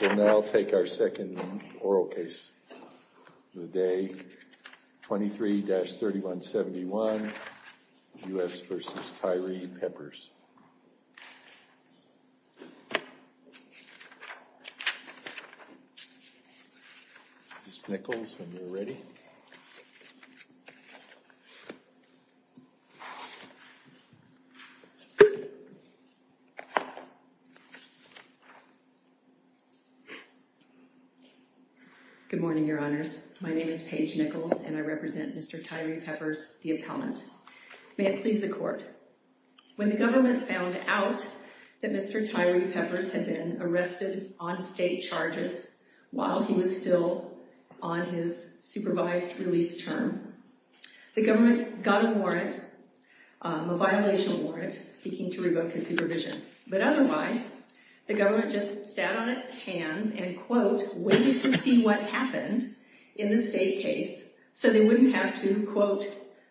We'll now take our second oral case of the day, 23-3171 U.S. v. Tyree-Peppers. This is Nichols, when you're ready. Good morning, your honors. My name is Paige Nichols, and I represent Mr. Tyree-Peppers, the appellant. May it please the court. When the government found out that Mr. Tyree-Peppers had been arrested on state charges while he was still on his supervised release term, the government got a warrant, a violation warrant, seeking to revoke his supervision. But otherwise, the government just sat on its hands and, quote, waited to see what happened in the state case so they wouldn't have to, quote,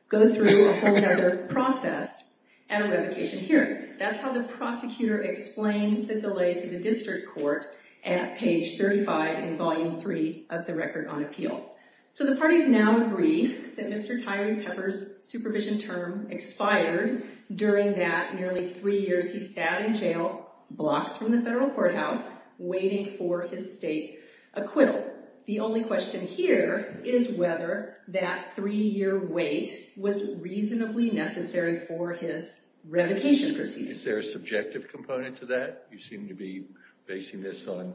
go through a whole other process at a revocation hearing. That's how the prosecutor explained the delay to the district court at page 35 in Volume 3 of the Record on Appeal. So the parties now agree that Mr. Tyree-Peppers' supervision term expired. During that nearly three years, he sat in jail blocks from the federal courthouse waiting for his state acquittal. The only question here is whether that three-year wait was reasonably necessary for his revocation proceedings. Is there a subjective component to that? You seem to be basing this on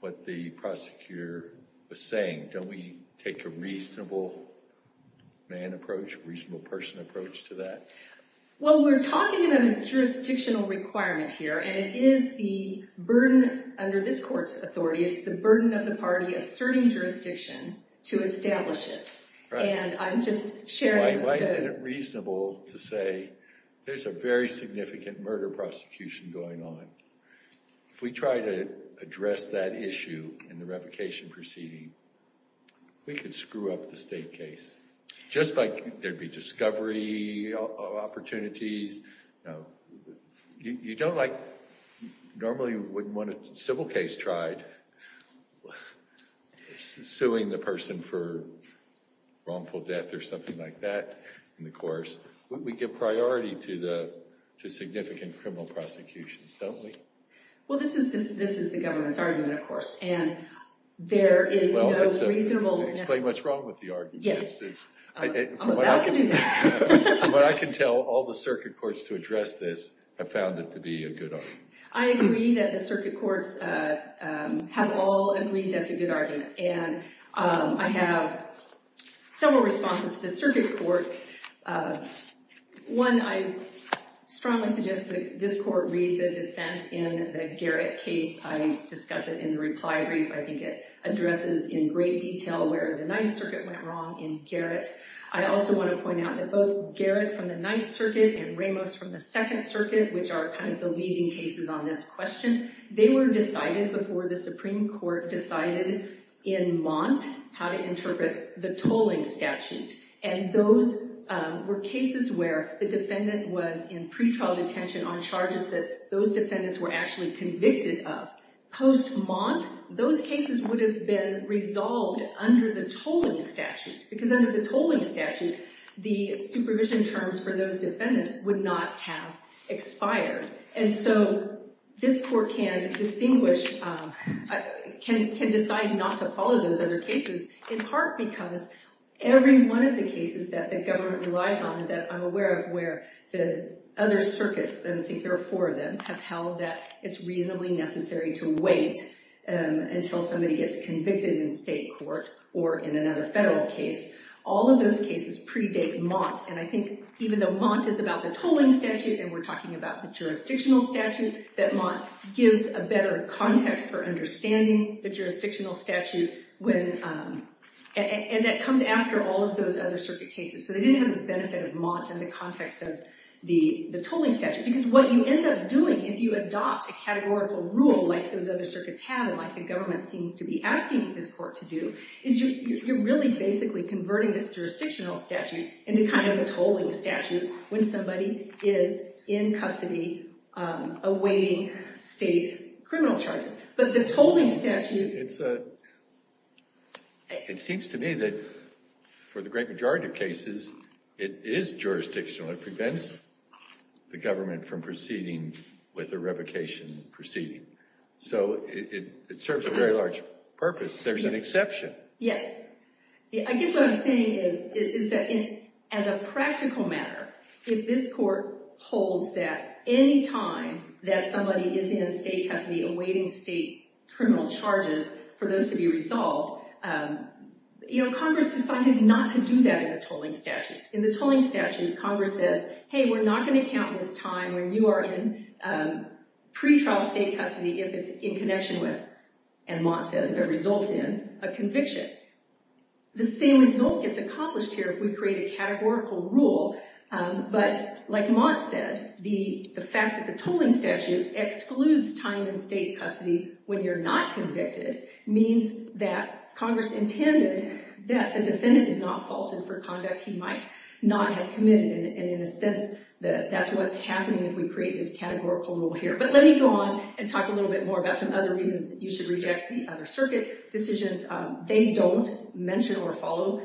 what the prosecutor was saying. Don't we take a reasonable man approach, reasonable person approach to that? Well, we're talking about a jurisdictional requirement here, and it is the burden under this court's authority. It's the burden of the party asserting jurisdiction to establish it. And I'm just sharing— Why isn't it reasonable to say there's a very significant murder prosecution going on? If we try to address that issue in the revocation proceeding, we could screw up the state case, just like there'd be discovery opportunities. You don't like—normally you wouldn't want a civil case tried suing the person for wrongful death or something like that in the course. We give priority to significant criminal prosecutions, don't we? Well, this is the government's argument, of course, and there is no reasonable— Explain what's wrong with the argument. Yes. I'm about to do that. From what I can tell, all the circuit courts to address this have found it to be a good argument. I agree that the circuit courts have all agreed that's a good argument. And I have several responses to the circuit courts. One, I strongly suggest that this court read the dissent in the Garrett case. I discuss it in the reply brief. I think it addresses in great detail where the Ninth Circuit went wrong in Garrett. I also want to point out that both Garrett from the Ninth Circuit and Ramos from the Second Circuit, which are kind of the leading cases on this question, they were decided before the Supreme Court decided in Mont how to interpret the tolling statute. And those were cases where the defendant was in pretrial detention on charges that those defendants were actually convicted of. Post-Mont, those cases would have been resolved under the tolling statute, because under the tolling statute, the supervision terms for those defendants would not have expired. And so this court can distinguish, can decide not to follow those other cases, in part because every one of the cases that the government relies on, that I'm aware of, where the other circuits, and I think there are four of them, have held that it's reasonably necessary to wait until somebody gets convicted in state court or in another federal case, all of those cases predate Mont. And I think even though Mont is about the tolling statute, and we're talking about the jurisdictional statute, that Mont gives a better context for understanding the jurisdictional statute, and that comes after all of those other circuit cases. So they didn't have the benefit of Mont in the context of the tolling statute, because what you end up doing if you adopt a categorical rule like those other circuits have, and like the government seems to be asking this court to do, is you're really basically converting this jurisdictional statute into kind of a tolling statute when somebody is in custody awaiting state criminal charges. But the tolling statute... It seems to me that for the great majority of cases, it is jurisdictional. It prevents the government from proceeding with a revocation proceeding. So it serves a very large purpose. There's an exception. Yes. I guess what I'm saying is that as a practical matter, if this court holds that any time that somebody is in state custody awaiting state criminal charges for those to be resolved, Congress decided not to do that in the tolling statute. In the tolling statute, Congress says, hey, we're not going to count this time when you are in pretrial state custody if it's in connection with... If it falls in a conviction. The same result gets accomplished here if we create a categorical rule. But like Mott said, the fact that the tolling statute excludes time in state custody when you're not convicted means that Congress intended that the defendant is not faulted for conduct he might not have committed. And in a sense, that's what's happening if we create this categorical rule here. But let me go on and talk a little bit more about some other reasons you should reject the other circuit decisions. They don't mention or follow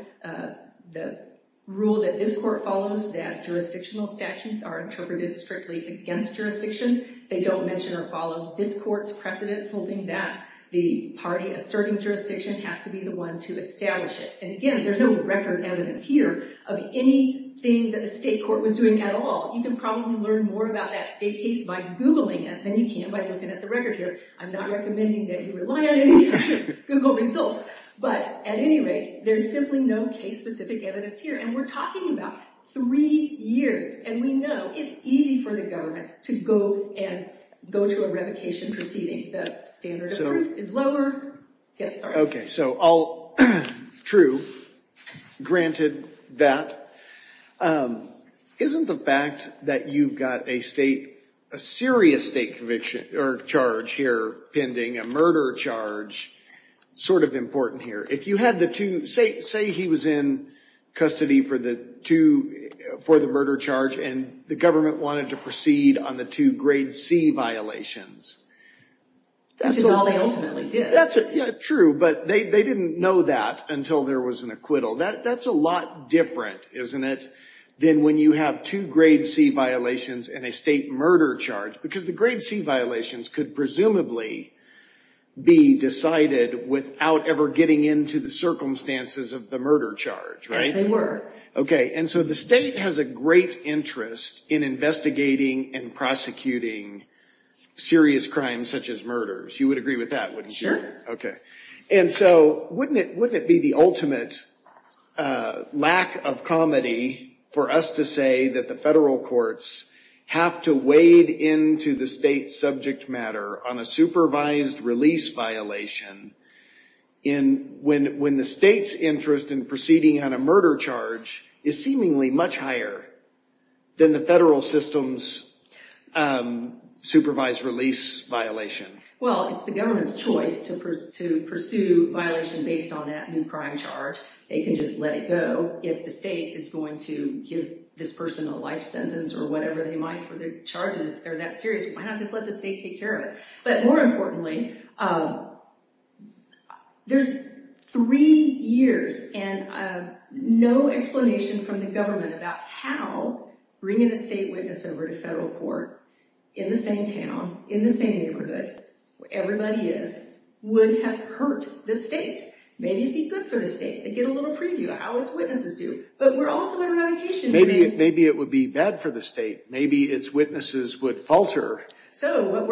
the rule that this court follows that jurisdictional statutes are interpreted strictly against jurisdiction. They don't mention or follow this court's precedent holding that the party asserting jurisdiction has to be the one to establish it. And again, there's no record evidence here of anything that the state court was doing at all. You can probably learn more about that state case by Googling it than you can by looking at the record here. I'm not recommending that you rely on any Google results. But at any rate, there's simply no case-specific evidence here. And we're talking about three years. And we know it's easy for the government to go and go to a revocation proceeding. The standard of proof is lower. OK, so all true, granted that. Isn't the fact that you've got a serious state conviction or charge here pending, a murder charge, sort of important here? If you had the two, say he was in custody for the murder charge, and the government wanted to proceed on the two grade C violations. Which is all they ultimately did. True, but they didn't know that until there was an acquittal. That's a lot different, isn't it, than when you have two grade C violations and a state murder charge. Because the grade C violations could presumably be decided without ever getting into the circumstances of the murder charge, right? Yes, they were. OK, and so the state has a great interest in investigating and prosecuting serious crimes such as murders. You would agree with that, wouldn't you? Sure. OK, and so wouldn't it be the ultimate lack of comedy for us to say that the federal courts have to wade into the state's subject matter on a supervised release violation when the state's interest in proceeding on a murder charge is seemingly much higher than the federal system's supervised release violation? Well, it's the government's choice to pursue violation based on that new crime charge. They can just let it go. If the state is going to give this person a life sentence or whatever they might for their charges, if they're that serious, why not just let the state take care of it? But more importantly, there's three years and no explanation from the government about how bringing a state witness over to federal court in the same town, in the same neighborhood, where everybody is, would have hurt the state. Maybe it'd be good for the state to get a little preview of how its witnesses do. But we're also on a vacation. Maybe it would be bad for the state. Maybe its witnesses would falter. So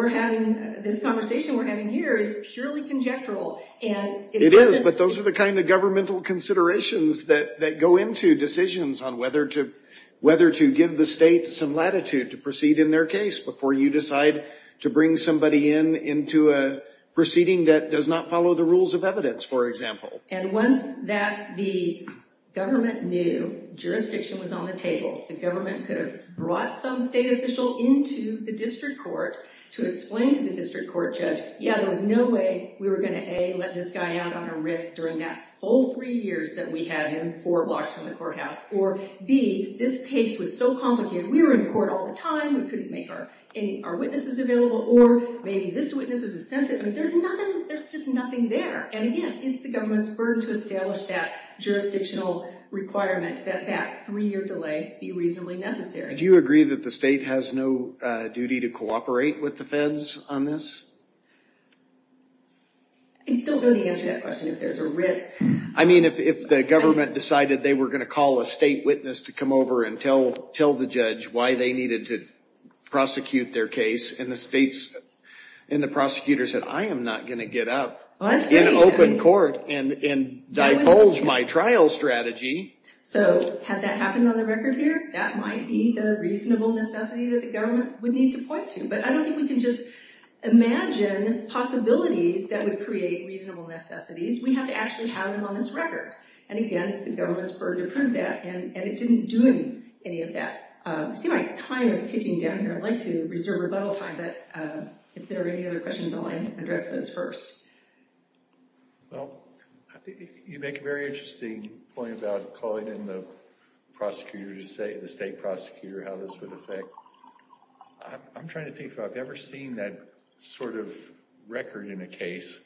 this conversation we're having here is purely conjectural. It is, but those are the kind of governmental considerations that go into decisions on whether to give the state some latitude to proceed in their case before you decide to bring somebody in into a proceeding that does not follow the rules of evidence, for example. And once the government knew jurisdiction was on the table, the government could have brought some state official into the district court to explain to the district court judge, yeah, there was no way we were going to A, let this guy out on a rip during that full three years that we had him four blocks from the courthouse, or B, this case was so complicated. We were in court all the time. We couldn't make our witnesses available. Or maybe this witness was a sensitive. I mean, there's just nothing there. And again, it's the government's burden to establish that jurisdictional requirement that that three-year delay be reasonably necessary. Do you agree that the state has no duty to cooperate with the feds on this? I don't know the answer to that question, if there's a rip. I mean, if the government decided they were going to call a state witness to come over and tell the judge why they needed to prosecute their case, and the prosecutor said, I am not going to get up in open court and divulge my trial strategy. So had that happened on the record here, that might be the reasonable necessity that the government would need to point to. But I don't think we can just imagine possibilities that would create reasonable necessities. We have to actually have them on this record. And again, it's the government's burden to prove that, and it didn't do any of that. I see my time is ticking down here. I'd like to reserve rebuttal time, but if there are any other questions, I'll address those first. Well, you make a very interesting point about calling in the state prosecutor and how this would affect. I'm trying to think if I've ever seen that sort of record in a case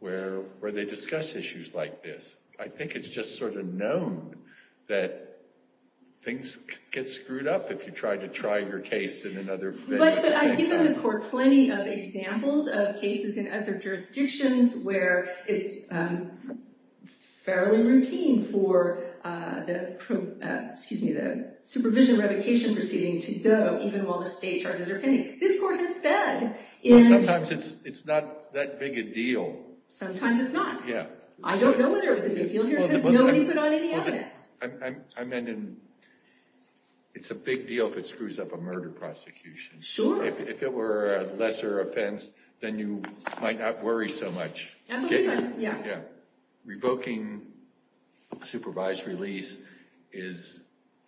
where they discuss issues like this. I think it's just sort of known that things get screwed up if you try to try your case in another venue. But I've given the court plenty of examples of cases in other jurisdictions where it's fairly routine for the supervision revocation proceeding to go even while the state charges are pending. This court has said in— Sometimes it's not that big a deal. Sometimes it's not. I don't know whether it's a big deal here because nobody put on any evidence. I meant it's a big deal if it screws up a murder prosecution. Sure. If it were a lesser offense, then you might not worry so much. Yeah. Revoking supervised release is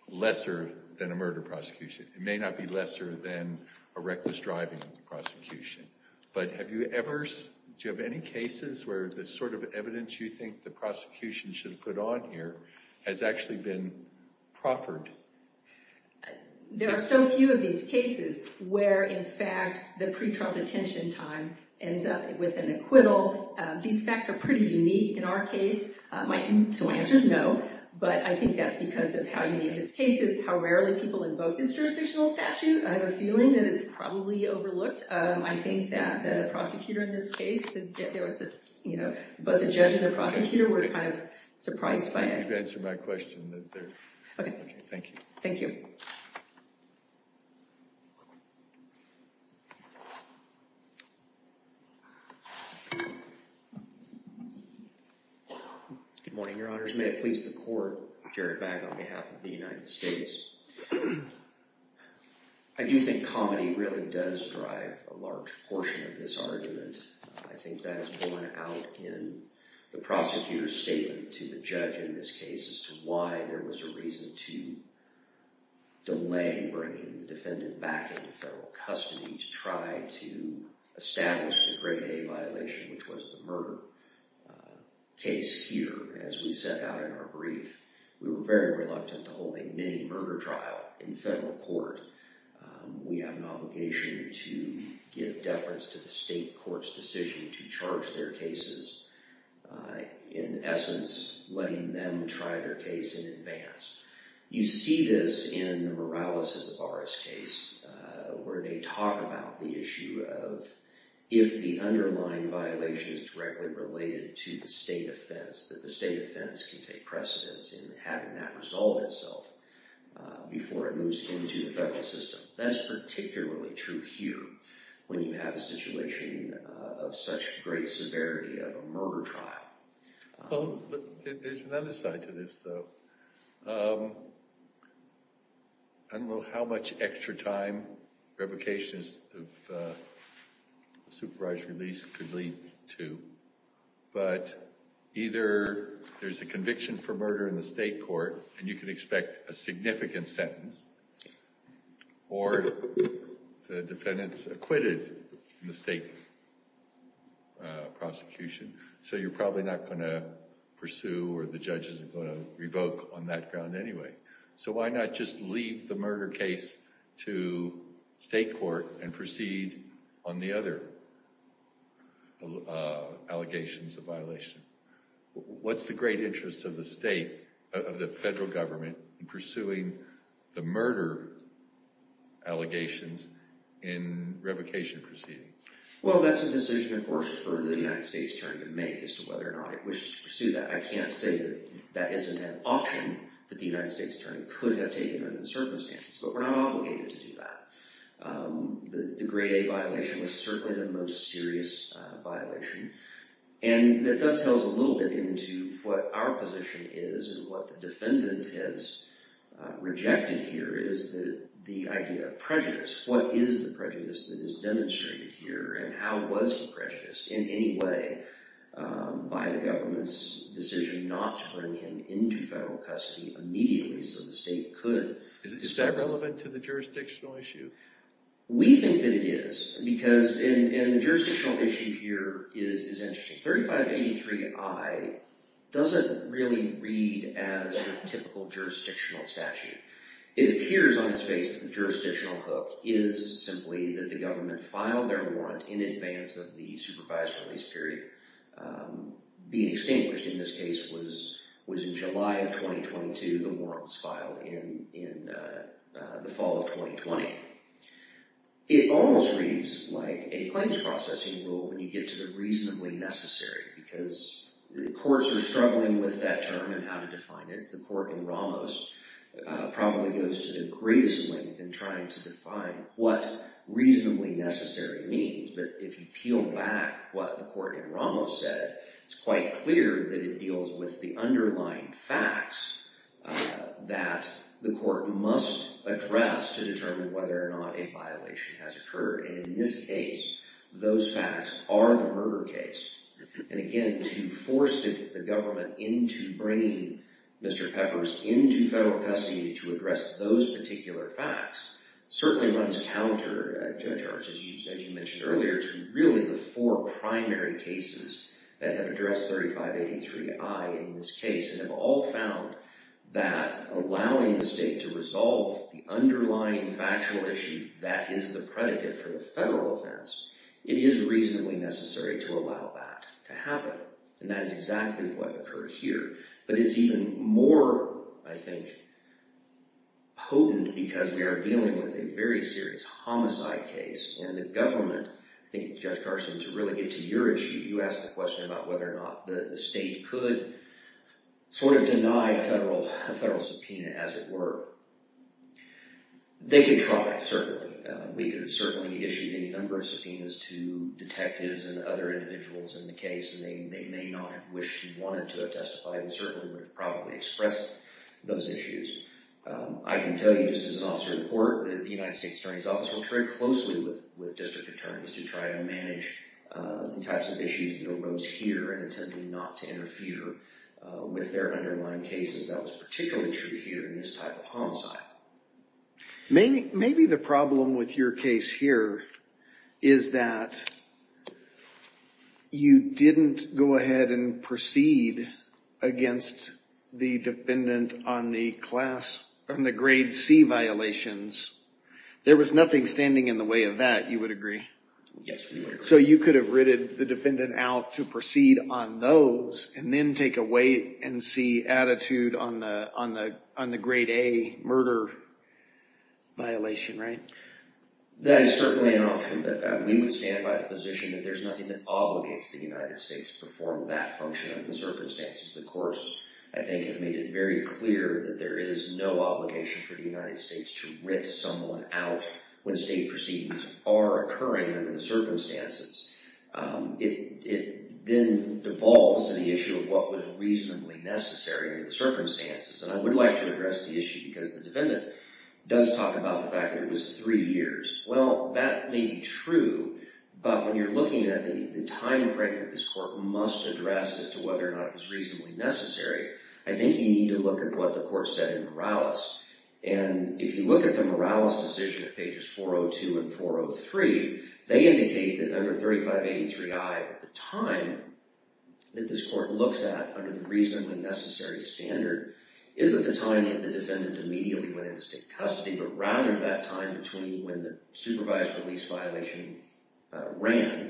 lesser than a murder prosecution. It may not be lesser than a reckless driving prosecution. But do you have any cases where the sort of evidence you think the prosecution should put on here has actually been proffered? There are so few of these cases where, in fact, the pre-trial detention time ends up with an acquittal. These facts are pretty unique in our case. So my answer is no. But I think that's because of how unique this case is, how rarely people invoke this jurisdictional statute. I have a feeling that it's probably overlooked. I think that the prosecutor in this case— both the judge and the prosecutor were kind of surprised by it. Thank you for answering my question. Thank you. Thank you. Good morning, Your Honors. May it please the Court, Jared Bagg on behalf of the United States. I think that is borne out in the prosecutor's statement to the judge in this case as to why there was a reason to delay bringing the defendant back into federal custody to try to establish the Grade A violation, which was the murder case here. As we set out in our brief, we were very reluctant to hold a mini-murder trial in federal court. We have an obligation to give deference to the state court's decision to charge their cases, in essence, letting them try their case in advance. You see this in Morales v. Zavara's case, where they talk about the issue of, if the underlying violation is directly related to the state offense, that the state offense can take precedence in having that resolve itself before it moves into the federal system. That's particularly true here, when you have a situation of such great severity of a murder trial. There's another side to this, though. I don't know how much extra time revocations of supervised release could lead to, but either there's a conviction for murder in the state court, and you can expect a significant sentence, or the defendant's acquitted in the state prosecution, so you're probably not going to pursue or the judge isn't going to revoke on that ground anyway. So why not just leave the murder case to state court and proceed on the other allegations of violation? What's the great interest of the state, of the federal government, in pursuing the murder allegations in revocation proceedings? Well, that's a decision, of course, for the United States attorney to make as to whether or not it wishes to pursue that. I can't say that that isn't an option that the United States attorney could have taken under the circumstances, but we're not obligated to do that. The grade A violation was certainly the most serious violation, and that dovetails a little bit into what our position is and what the defendant has rejected here is the idea of prejudice. What is the prejudice that is demonstrated here, and how was he prejudiced in any way by the government's decision not to bring him into federal custody immediately so the state could... Is that relevant to the jurisdictional issue? We think that it is, and the jurisdictional issue here is interesting. 3583I doesn't really read as a typical jurisdictional statute. It appears on its face that the jurisdictional hook is simply that the government filed their warrant in advance of the supervised release period. Being extinguished in this case was in July of 2022, the warrants filed in the fall of 2020. It almost reads like a claims processing rule when you get to the reasonably necessary because the courts are struggling with that term and how to define it. The court in Ramos probably goes to the greatest length in trying to define what reasonably necessary means, but if you peel back what the court in Ramos said, it's quite clear that it deals with the underlying facts that the court must address to determine whether or not a violation has occurred. In this case, those facts are the murder case. Again, to force the government into bringing Mr. Peppers into federal custody to address those particular facts certainly runs counter, Judge Arts, as you mentioned earlier, to really the four primary cases that have addressed 3583I in this case and have all found that allowing the state to resolve the underlying factual issue that is the predicate for the federal offense, it is reasonably necessary to allow that to happen, and that is exactly what occurred here. But it's even more, I think, potent because we are dealing with a very serious homicide case and the government, I think, Judge Carson, to really get to your issue, you asked the question about whether or not the state could sort of deny a federal subpoena as it were. They could try, certainly. We could certainly issue any number of subpoenas to detectives and other individuals in the case, and they may not have wished and wanted to have testified and certainly would have probably expressed those issues. I can tell you just as an officer of the court that the United States Attorney's Office works very closely with district attorneys to try and manage the types of issues that arose here and attempting not to interfere with their underlying cases. That was particularly true here in this type of homicide. Maybe the problem with your case here is that you didn't go ahead and proceed against the defendant on the grade C violations. There was nothing standing in the way of that, you would agree? Yes, we would agree. So you could have ridded the defendant out to proceed on those and then take away and see attitude on the grade A murder violation, right? That is certainly an option, but we would stand by the position that there's nothing that obligates the United States to perform that function under the circumstances. The courts, I think, have made it very clear that there is no obligation for the United States to rip someone out when state proceedings are occurring under the circumstances. It then devolves to the issue of what was reasonably necessary under the circumstances. And I would like to address the issue because the defendant does talk about the fact that it was three years. Well, that may be true, but when you're looking at the timeframe that this court must address as to whether or not it was reasonably necessary, I think you need to look at what the court said in Morales. And if you look at the Morales decision at pages 402 and 403, they indicate that under 3583I, the time that this court looks at under the reasonably necessary standard is at the time that the defendant immediately went into state custody, but rather that time between when the supervised release violation ran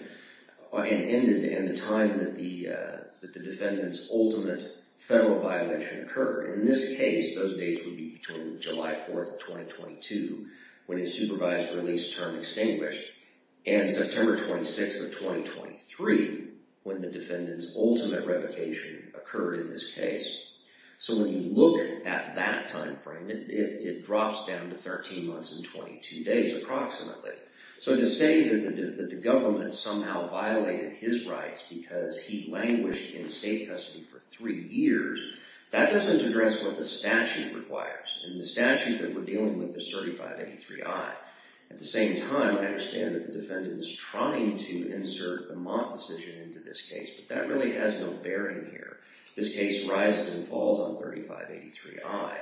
and the time that the defendant's ultimate federal violation occurred. In this case, those dates would be between July 4th, 2022, when his supervised release term extinguished, and September 26th of 2023, when the defendant's ultimate revocation occurred in this case. So when you look at that timeframe, it drops down to 13 months and 22 days, approximately. So to say that the government somehow violated his rights because he languished in state custody for three years, that doesn't address what the statute requires. And the statute that we're dealing with is 3583I. At the same time, I understand that the defendant is trying to insert a Mott decision into this case, but that really has no bearing here. This case rises and falls on 3583I.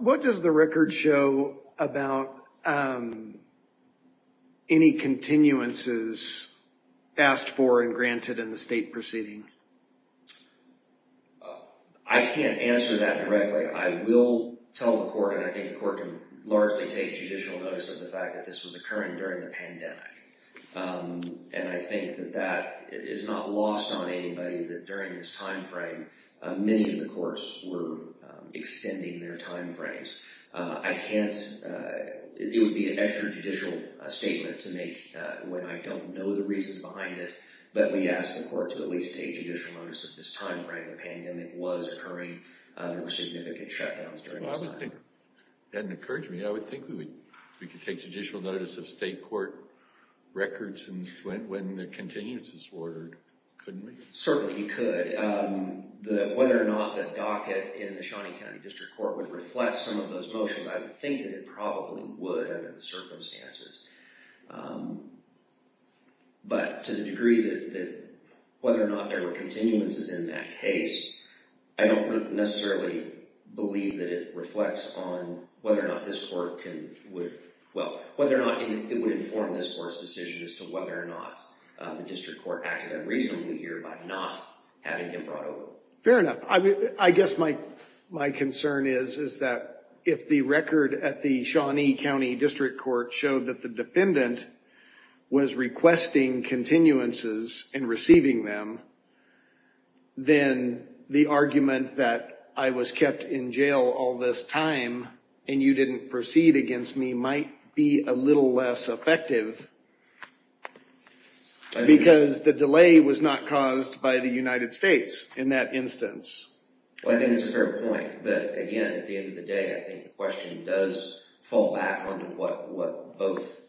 What does the record show about any continuances asked for and granted in the state proceeding? I can't answer that directly. I will tell the court, and I think the court can largely take judicial notice of the fact that this was occurring during the pandemic. And I think that that is not lost on anybody, that during this timeframe, many of the courts were extending their timeframes. I can't... It would be an extra judicial statement to make when I don't know the reasons behind it, but we ask the court to at least take judicial notice of this timeframe, the pandemic was occurring, there were significant shutdowns during this time. Well, I would think... It doesn't encourage me. I would think we could take judicial notice of state court records when the continuances were ordered, couldn't we? Certainly, you could. Whether or not the docket in the Shawnee County District Court would reflect some of those motions, I would think that it probably would under the circumstances. But to the degree that whether or not there were continuances in that case, I don't necessarily believe that it reflects on whether or not this court can... Well, whether or not it would inform this court's decision as to whether or not the district court acted unreasonably here by not having him brought over. Fair enough. I guess my concern is that if the record at the Shawnee County District Court showed that the defendant was requesting continuances and receiving them, then the argument that I was kept in jail all this time and you didn't proceed against me might be a little less effective because the delay was not caused by the United States in that instance. Well, I think that's a fair point. But again, at the end of the day, I think the question does fall back onto what both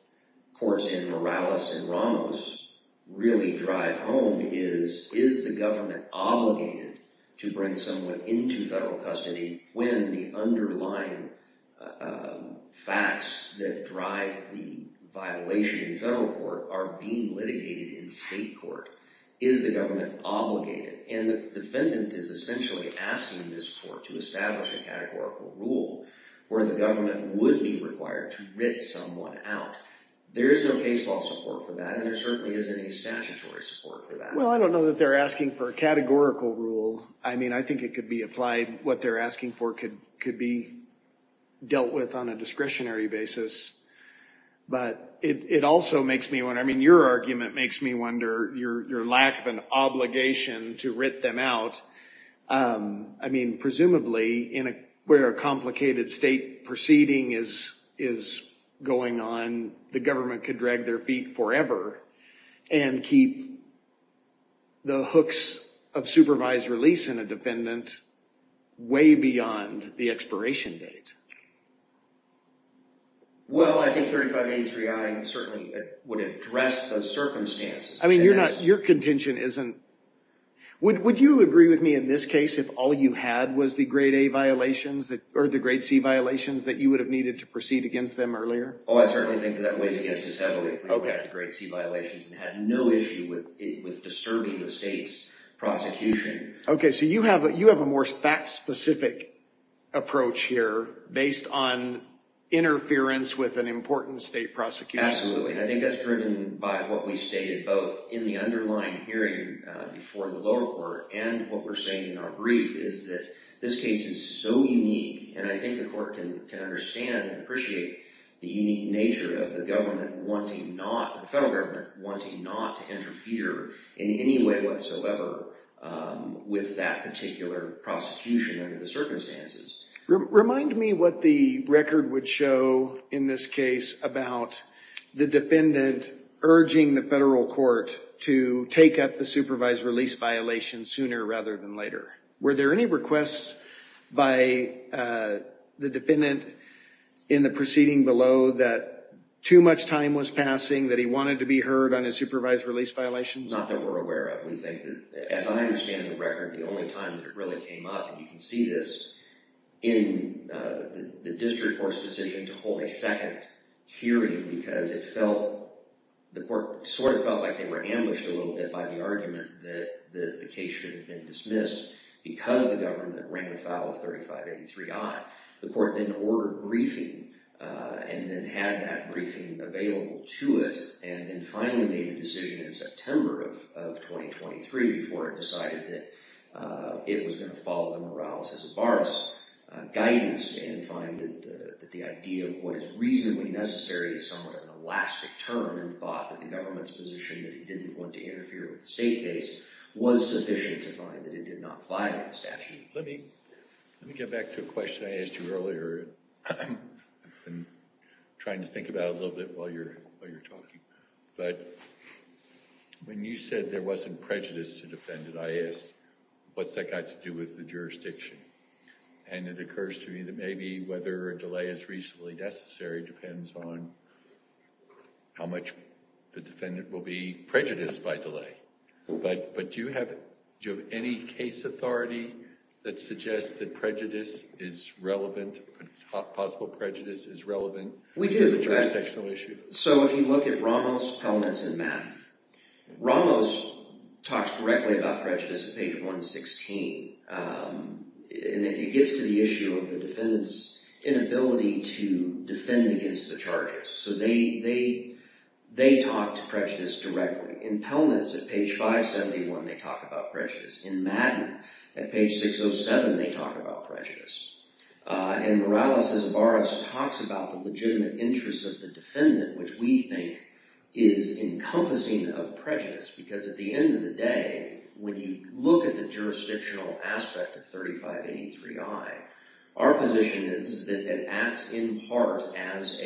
courts in Morales and Ramos really drive home is, is the government obligated to bring someone into federal custody when the underlying facts that drive the violation in federal court are being litigated in state court? Is the government obligated? And the defendant is essentially asking this court to establish a categorical rule where the government would be required to writ someone out. There is no case law support for that, and there certainly isn't any statutory support for that. Well, I don't know that they're asking for a categorical rule. I mean, I think it could be applied. What they're asking for could be dealt with on a discretionary basis. But it also makes me wonder. I mean, your argument makes me wonder your lack of an obligation to writ them out. I mean, presumably, where a complicated state proceeding is going on, the government could drag their feet forever and keep the hooks of supervised release in a defendant way beyond the expiration date. Well, I think 3583I certainly would address those circumstances. I mean, your contention isn't – would you agree with me in this case if all you had was the grade A violations or the grade C violations that you would have needed to proceed against them earlier? Oh, I certainly think that that weighs against us heavily if we had the grade C violations and had no issue with disturbing the state's prosecution. Okay, so you have a more fact-specific approach here based on interference with an important state prosecution. Absolutely, and I think that's driven by what we stated both in the underlying hearing before the lower court and what we're saying in our brief is that this case is so unique, and I think the court can understand and appreciate the unique nature of the government wanting not – the federal government wanting not to interfere in any way whatsoever with that particular prosecution under the circumstances. Remind me what the record would show in this case about the defendant urging the federal court to take up the supervised release violation sooner rather than later. Were there any requests by the defendant in the proceeding below that too much time was passing that he wanted to be heard on his supervised release violations? Not that we're aware of. We think that, as I understand the record, the only time that it really came up, and you can see this in the district court's decision to hold a second hearing because it felt – the court sort of felt like they were ambushed a little bit by the argument that the case should have been dismissed because the government rang a foul of 3583-I. The court then ordered a briefing and then had that briefing available to it and then finally made a decision in September of 2023 before it decided that it was going to follow the Morales-Izobaras guidance and find that the idea of what is reasonably necessary is somewhat of an elastic term and thought that the government's position that he didn't want to interfere with the state case was sufficient to find that it did not fly by the statute. Let me get back to a question I asked you earlier. I've been trying to think about it a little bit while you're talking. But when you said there wasn't prejudice to defend it, I asked what's that got to do with the jurisdiction? And it occurs to me that maybe whether a delay is reasonably necessary depends on how much the defendant will be prejudiced by delay. But do you have any case authority that suggests that prejudice is relevant, possible prejudice is relevant to the jurisdictional issue? We do. So if you look at Ramos, Pelnitz, and Mapp, Ramos talks directly about prejudice at page 116. And it gets to the issue of the defendant's inability to defend against the charges. So they talk to prejudice directly. In Pelnitz, at page 571, they talk about prejudice. In Mapp, at page 607, they talk about prejudice. And Morales-Izobaras talks about the legitimate interests of the defendant, which we think is encompassing of prejudice. Because at the end of the day, when you look at the jurisdictional aspect of 3583I, our position is that it acts in part as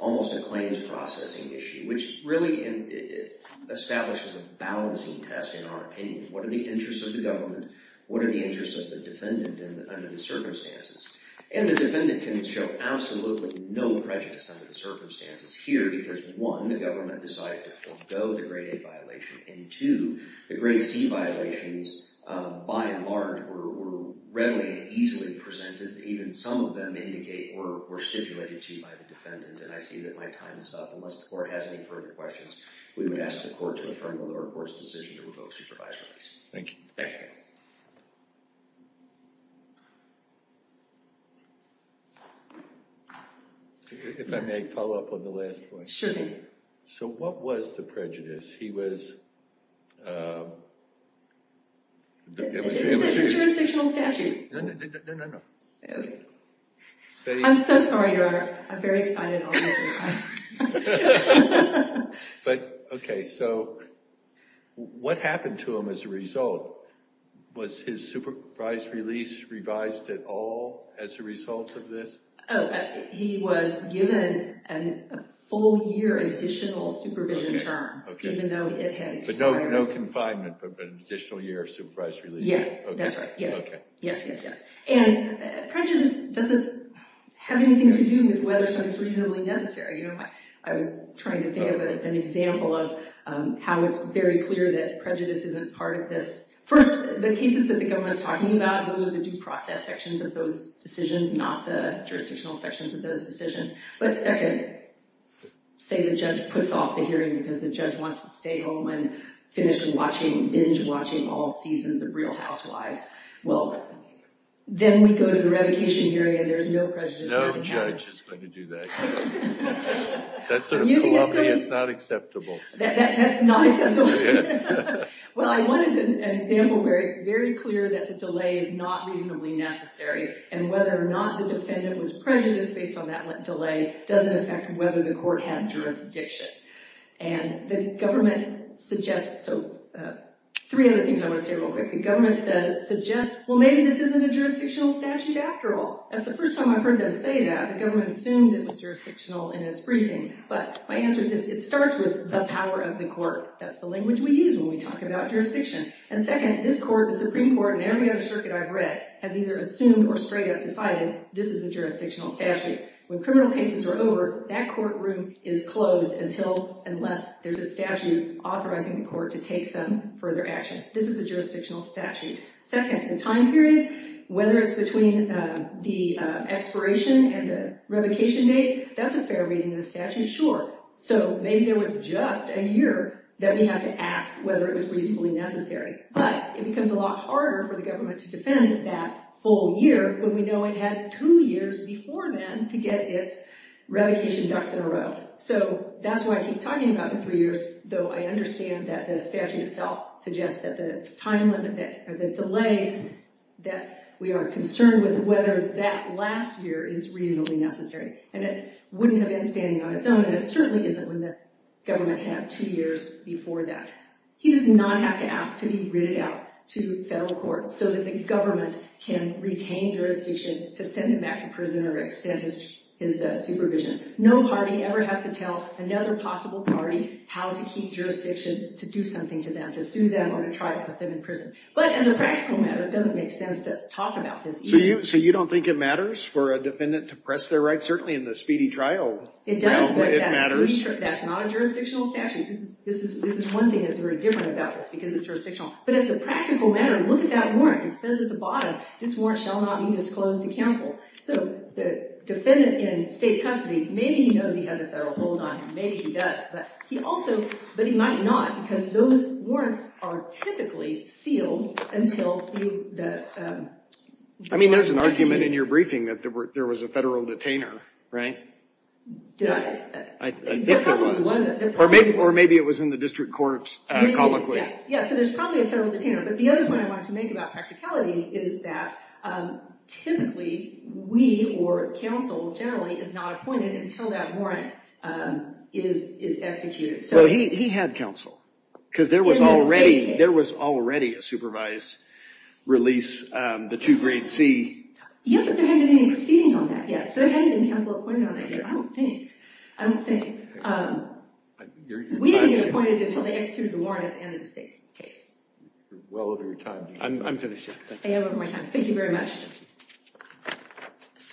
almost a claims processing issue, which really establishes a balancing test in our opinion. What are the interests of the government? What are the interests of the defendant under the circumstances? And the defendant can show absolutely no prejudice under the circumstances here. Because one, the government decided to forego the grade A violation. And two, the grade C violations, by and large, were readily and easily presented. Even some of them indicate or were stipulated to by the defendant. And I see that my time is up. Unless the court has any further questions, we would ask the court to affirm the lower court's decision to revoke supervised release. Thank you. Thank you. OK. If I may follow up on the last point. Sure thing. So what was the prejudice? He was, um, it was the image. It's a jurisdictional statute. No, no, no, no, no. I'm so sorry, Your Honor. I'm very excited all this time. But OK, so what happened to him as a result? Was his supervised release revised at all as a result of this? Oh, he was given a full year additional supervision term, even though it had expired. But no confinement, but an additional year of supervised release. Yes, that's right. Yes, yes, yes, yes. And prejudice doesn't have anything to do with whether something's reasonably necessary. You know, I was trying to think of an example of how it's very clear that prejudice isn't part of this. First, the cases that the government is talking about, those are the due process sections of those decisions, not the jurisdictional sections of those decisions. But second, say the judge puts off the hearing because the judge wants to stay home and finish binge-watching all seasons of Real Housewives. Well, then we go to the revocation hearing, and there's no prejudice there. That sort of calumny is not acceptable. That's not acceptable? Yes. Well, I wanted an example where it's very clear that the delay is not reasonably necessary, and whether or not the defendant was prejudiced based on that delay doesn't affect whether the court had jurisdiction. And the government suggests – so three other things I want to say real quick. The government suggests, well, maybe this isn't a jurisdictional statute after all. That's the first time I've heard them say that. The government assumed it was jurisdictional in its briefing, but my answer is this. It starts with the power of the court. That's the language we use when we talk about jurisdiction. And second, this court, the Supreme Court, and every other circuit I've read has either assumed or straight up decided this is a jurisdictional statute. When criminal cases are over, that courtroom is closed until unless there's a statute authorizing the court to take some further action. This is a jurisdictional statute. Second, the time period, whether it's between the expiration and the revocation date, that's a fair reading of the statute, sure. So maybe there was just a year that we have to ask whether it was reasonably necessary. But it becomes a lot harder for the government to defend that full year when we know it had two years before then to get its revocation ducks in a row. So that's why I keep talking about the three years, though I understand that the statute itself suggests that the time limit or the delay that we are concerned with whether that last year is reasonably necessary. And it wouldn't have been standing on its own, and it certainly isn't when the government had two years before that. He does not have to ask to be written out to federal courts so that the government can retain jurisdiction to send him back to prison or extend his supervision. No party ever has to tell another possible party how to keep jurisdiction to do something to them, to sue them or to try to put them in prison. But as a practical matter, it doesn't make sense to talk about this either. So you don't think it matters for a defendant to press their rights? Certainly in the speedy trial realm, it matters. It does, but that's not a jurisdictional statute. This is one thing that's very different about this because it's jurisdictional. But as a practical matter, look at that warrant. It says at the bottom, this warrant shall not be disclosed to counsel. So the defendant in state custody, maybe he knows he has a federal hold on him. Maybe he does. But he might not because those warrants are typically sealed until the I mean, there's an argument in your briefing that there was a federal detainer, right? I think there was. Or maybe it was in the district courts comically. Yeah, so there's probably a federal detainer. But the other point I wanted to make about practicalities is that typically we or counsel generally is not appointed until that warrant is executed. So he had counsel. Because there was already a supervised release, the two grade C. Yeah, but there hadn't been any proceedings on that yet. So there hadn't been counsel appointed on that yet. I don't think. I don't think. We didn't get appointed until they executed the warrant at the end of the state case. You're well over your time. I'm finished. I have over my time. Thank you very much.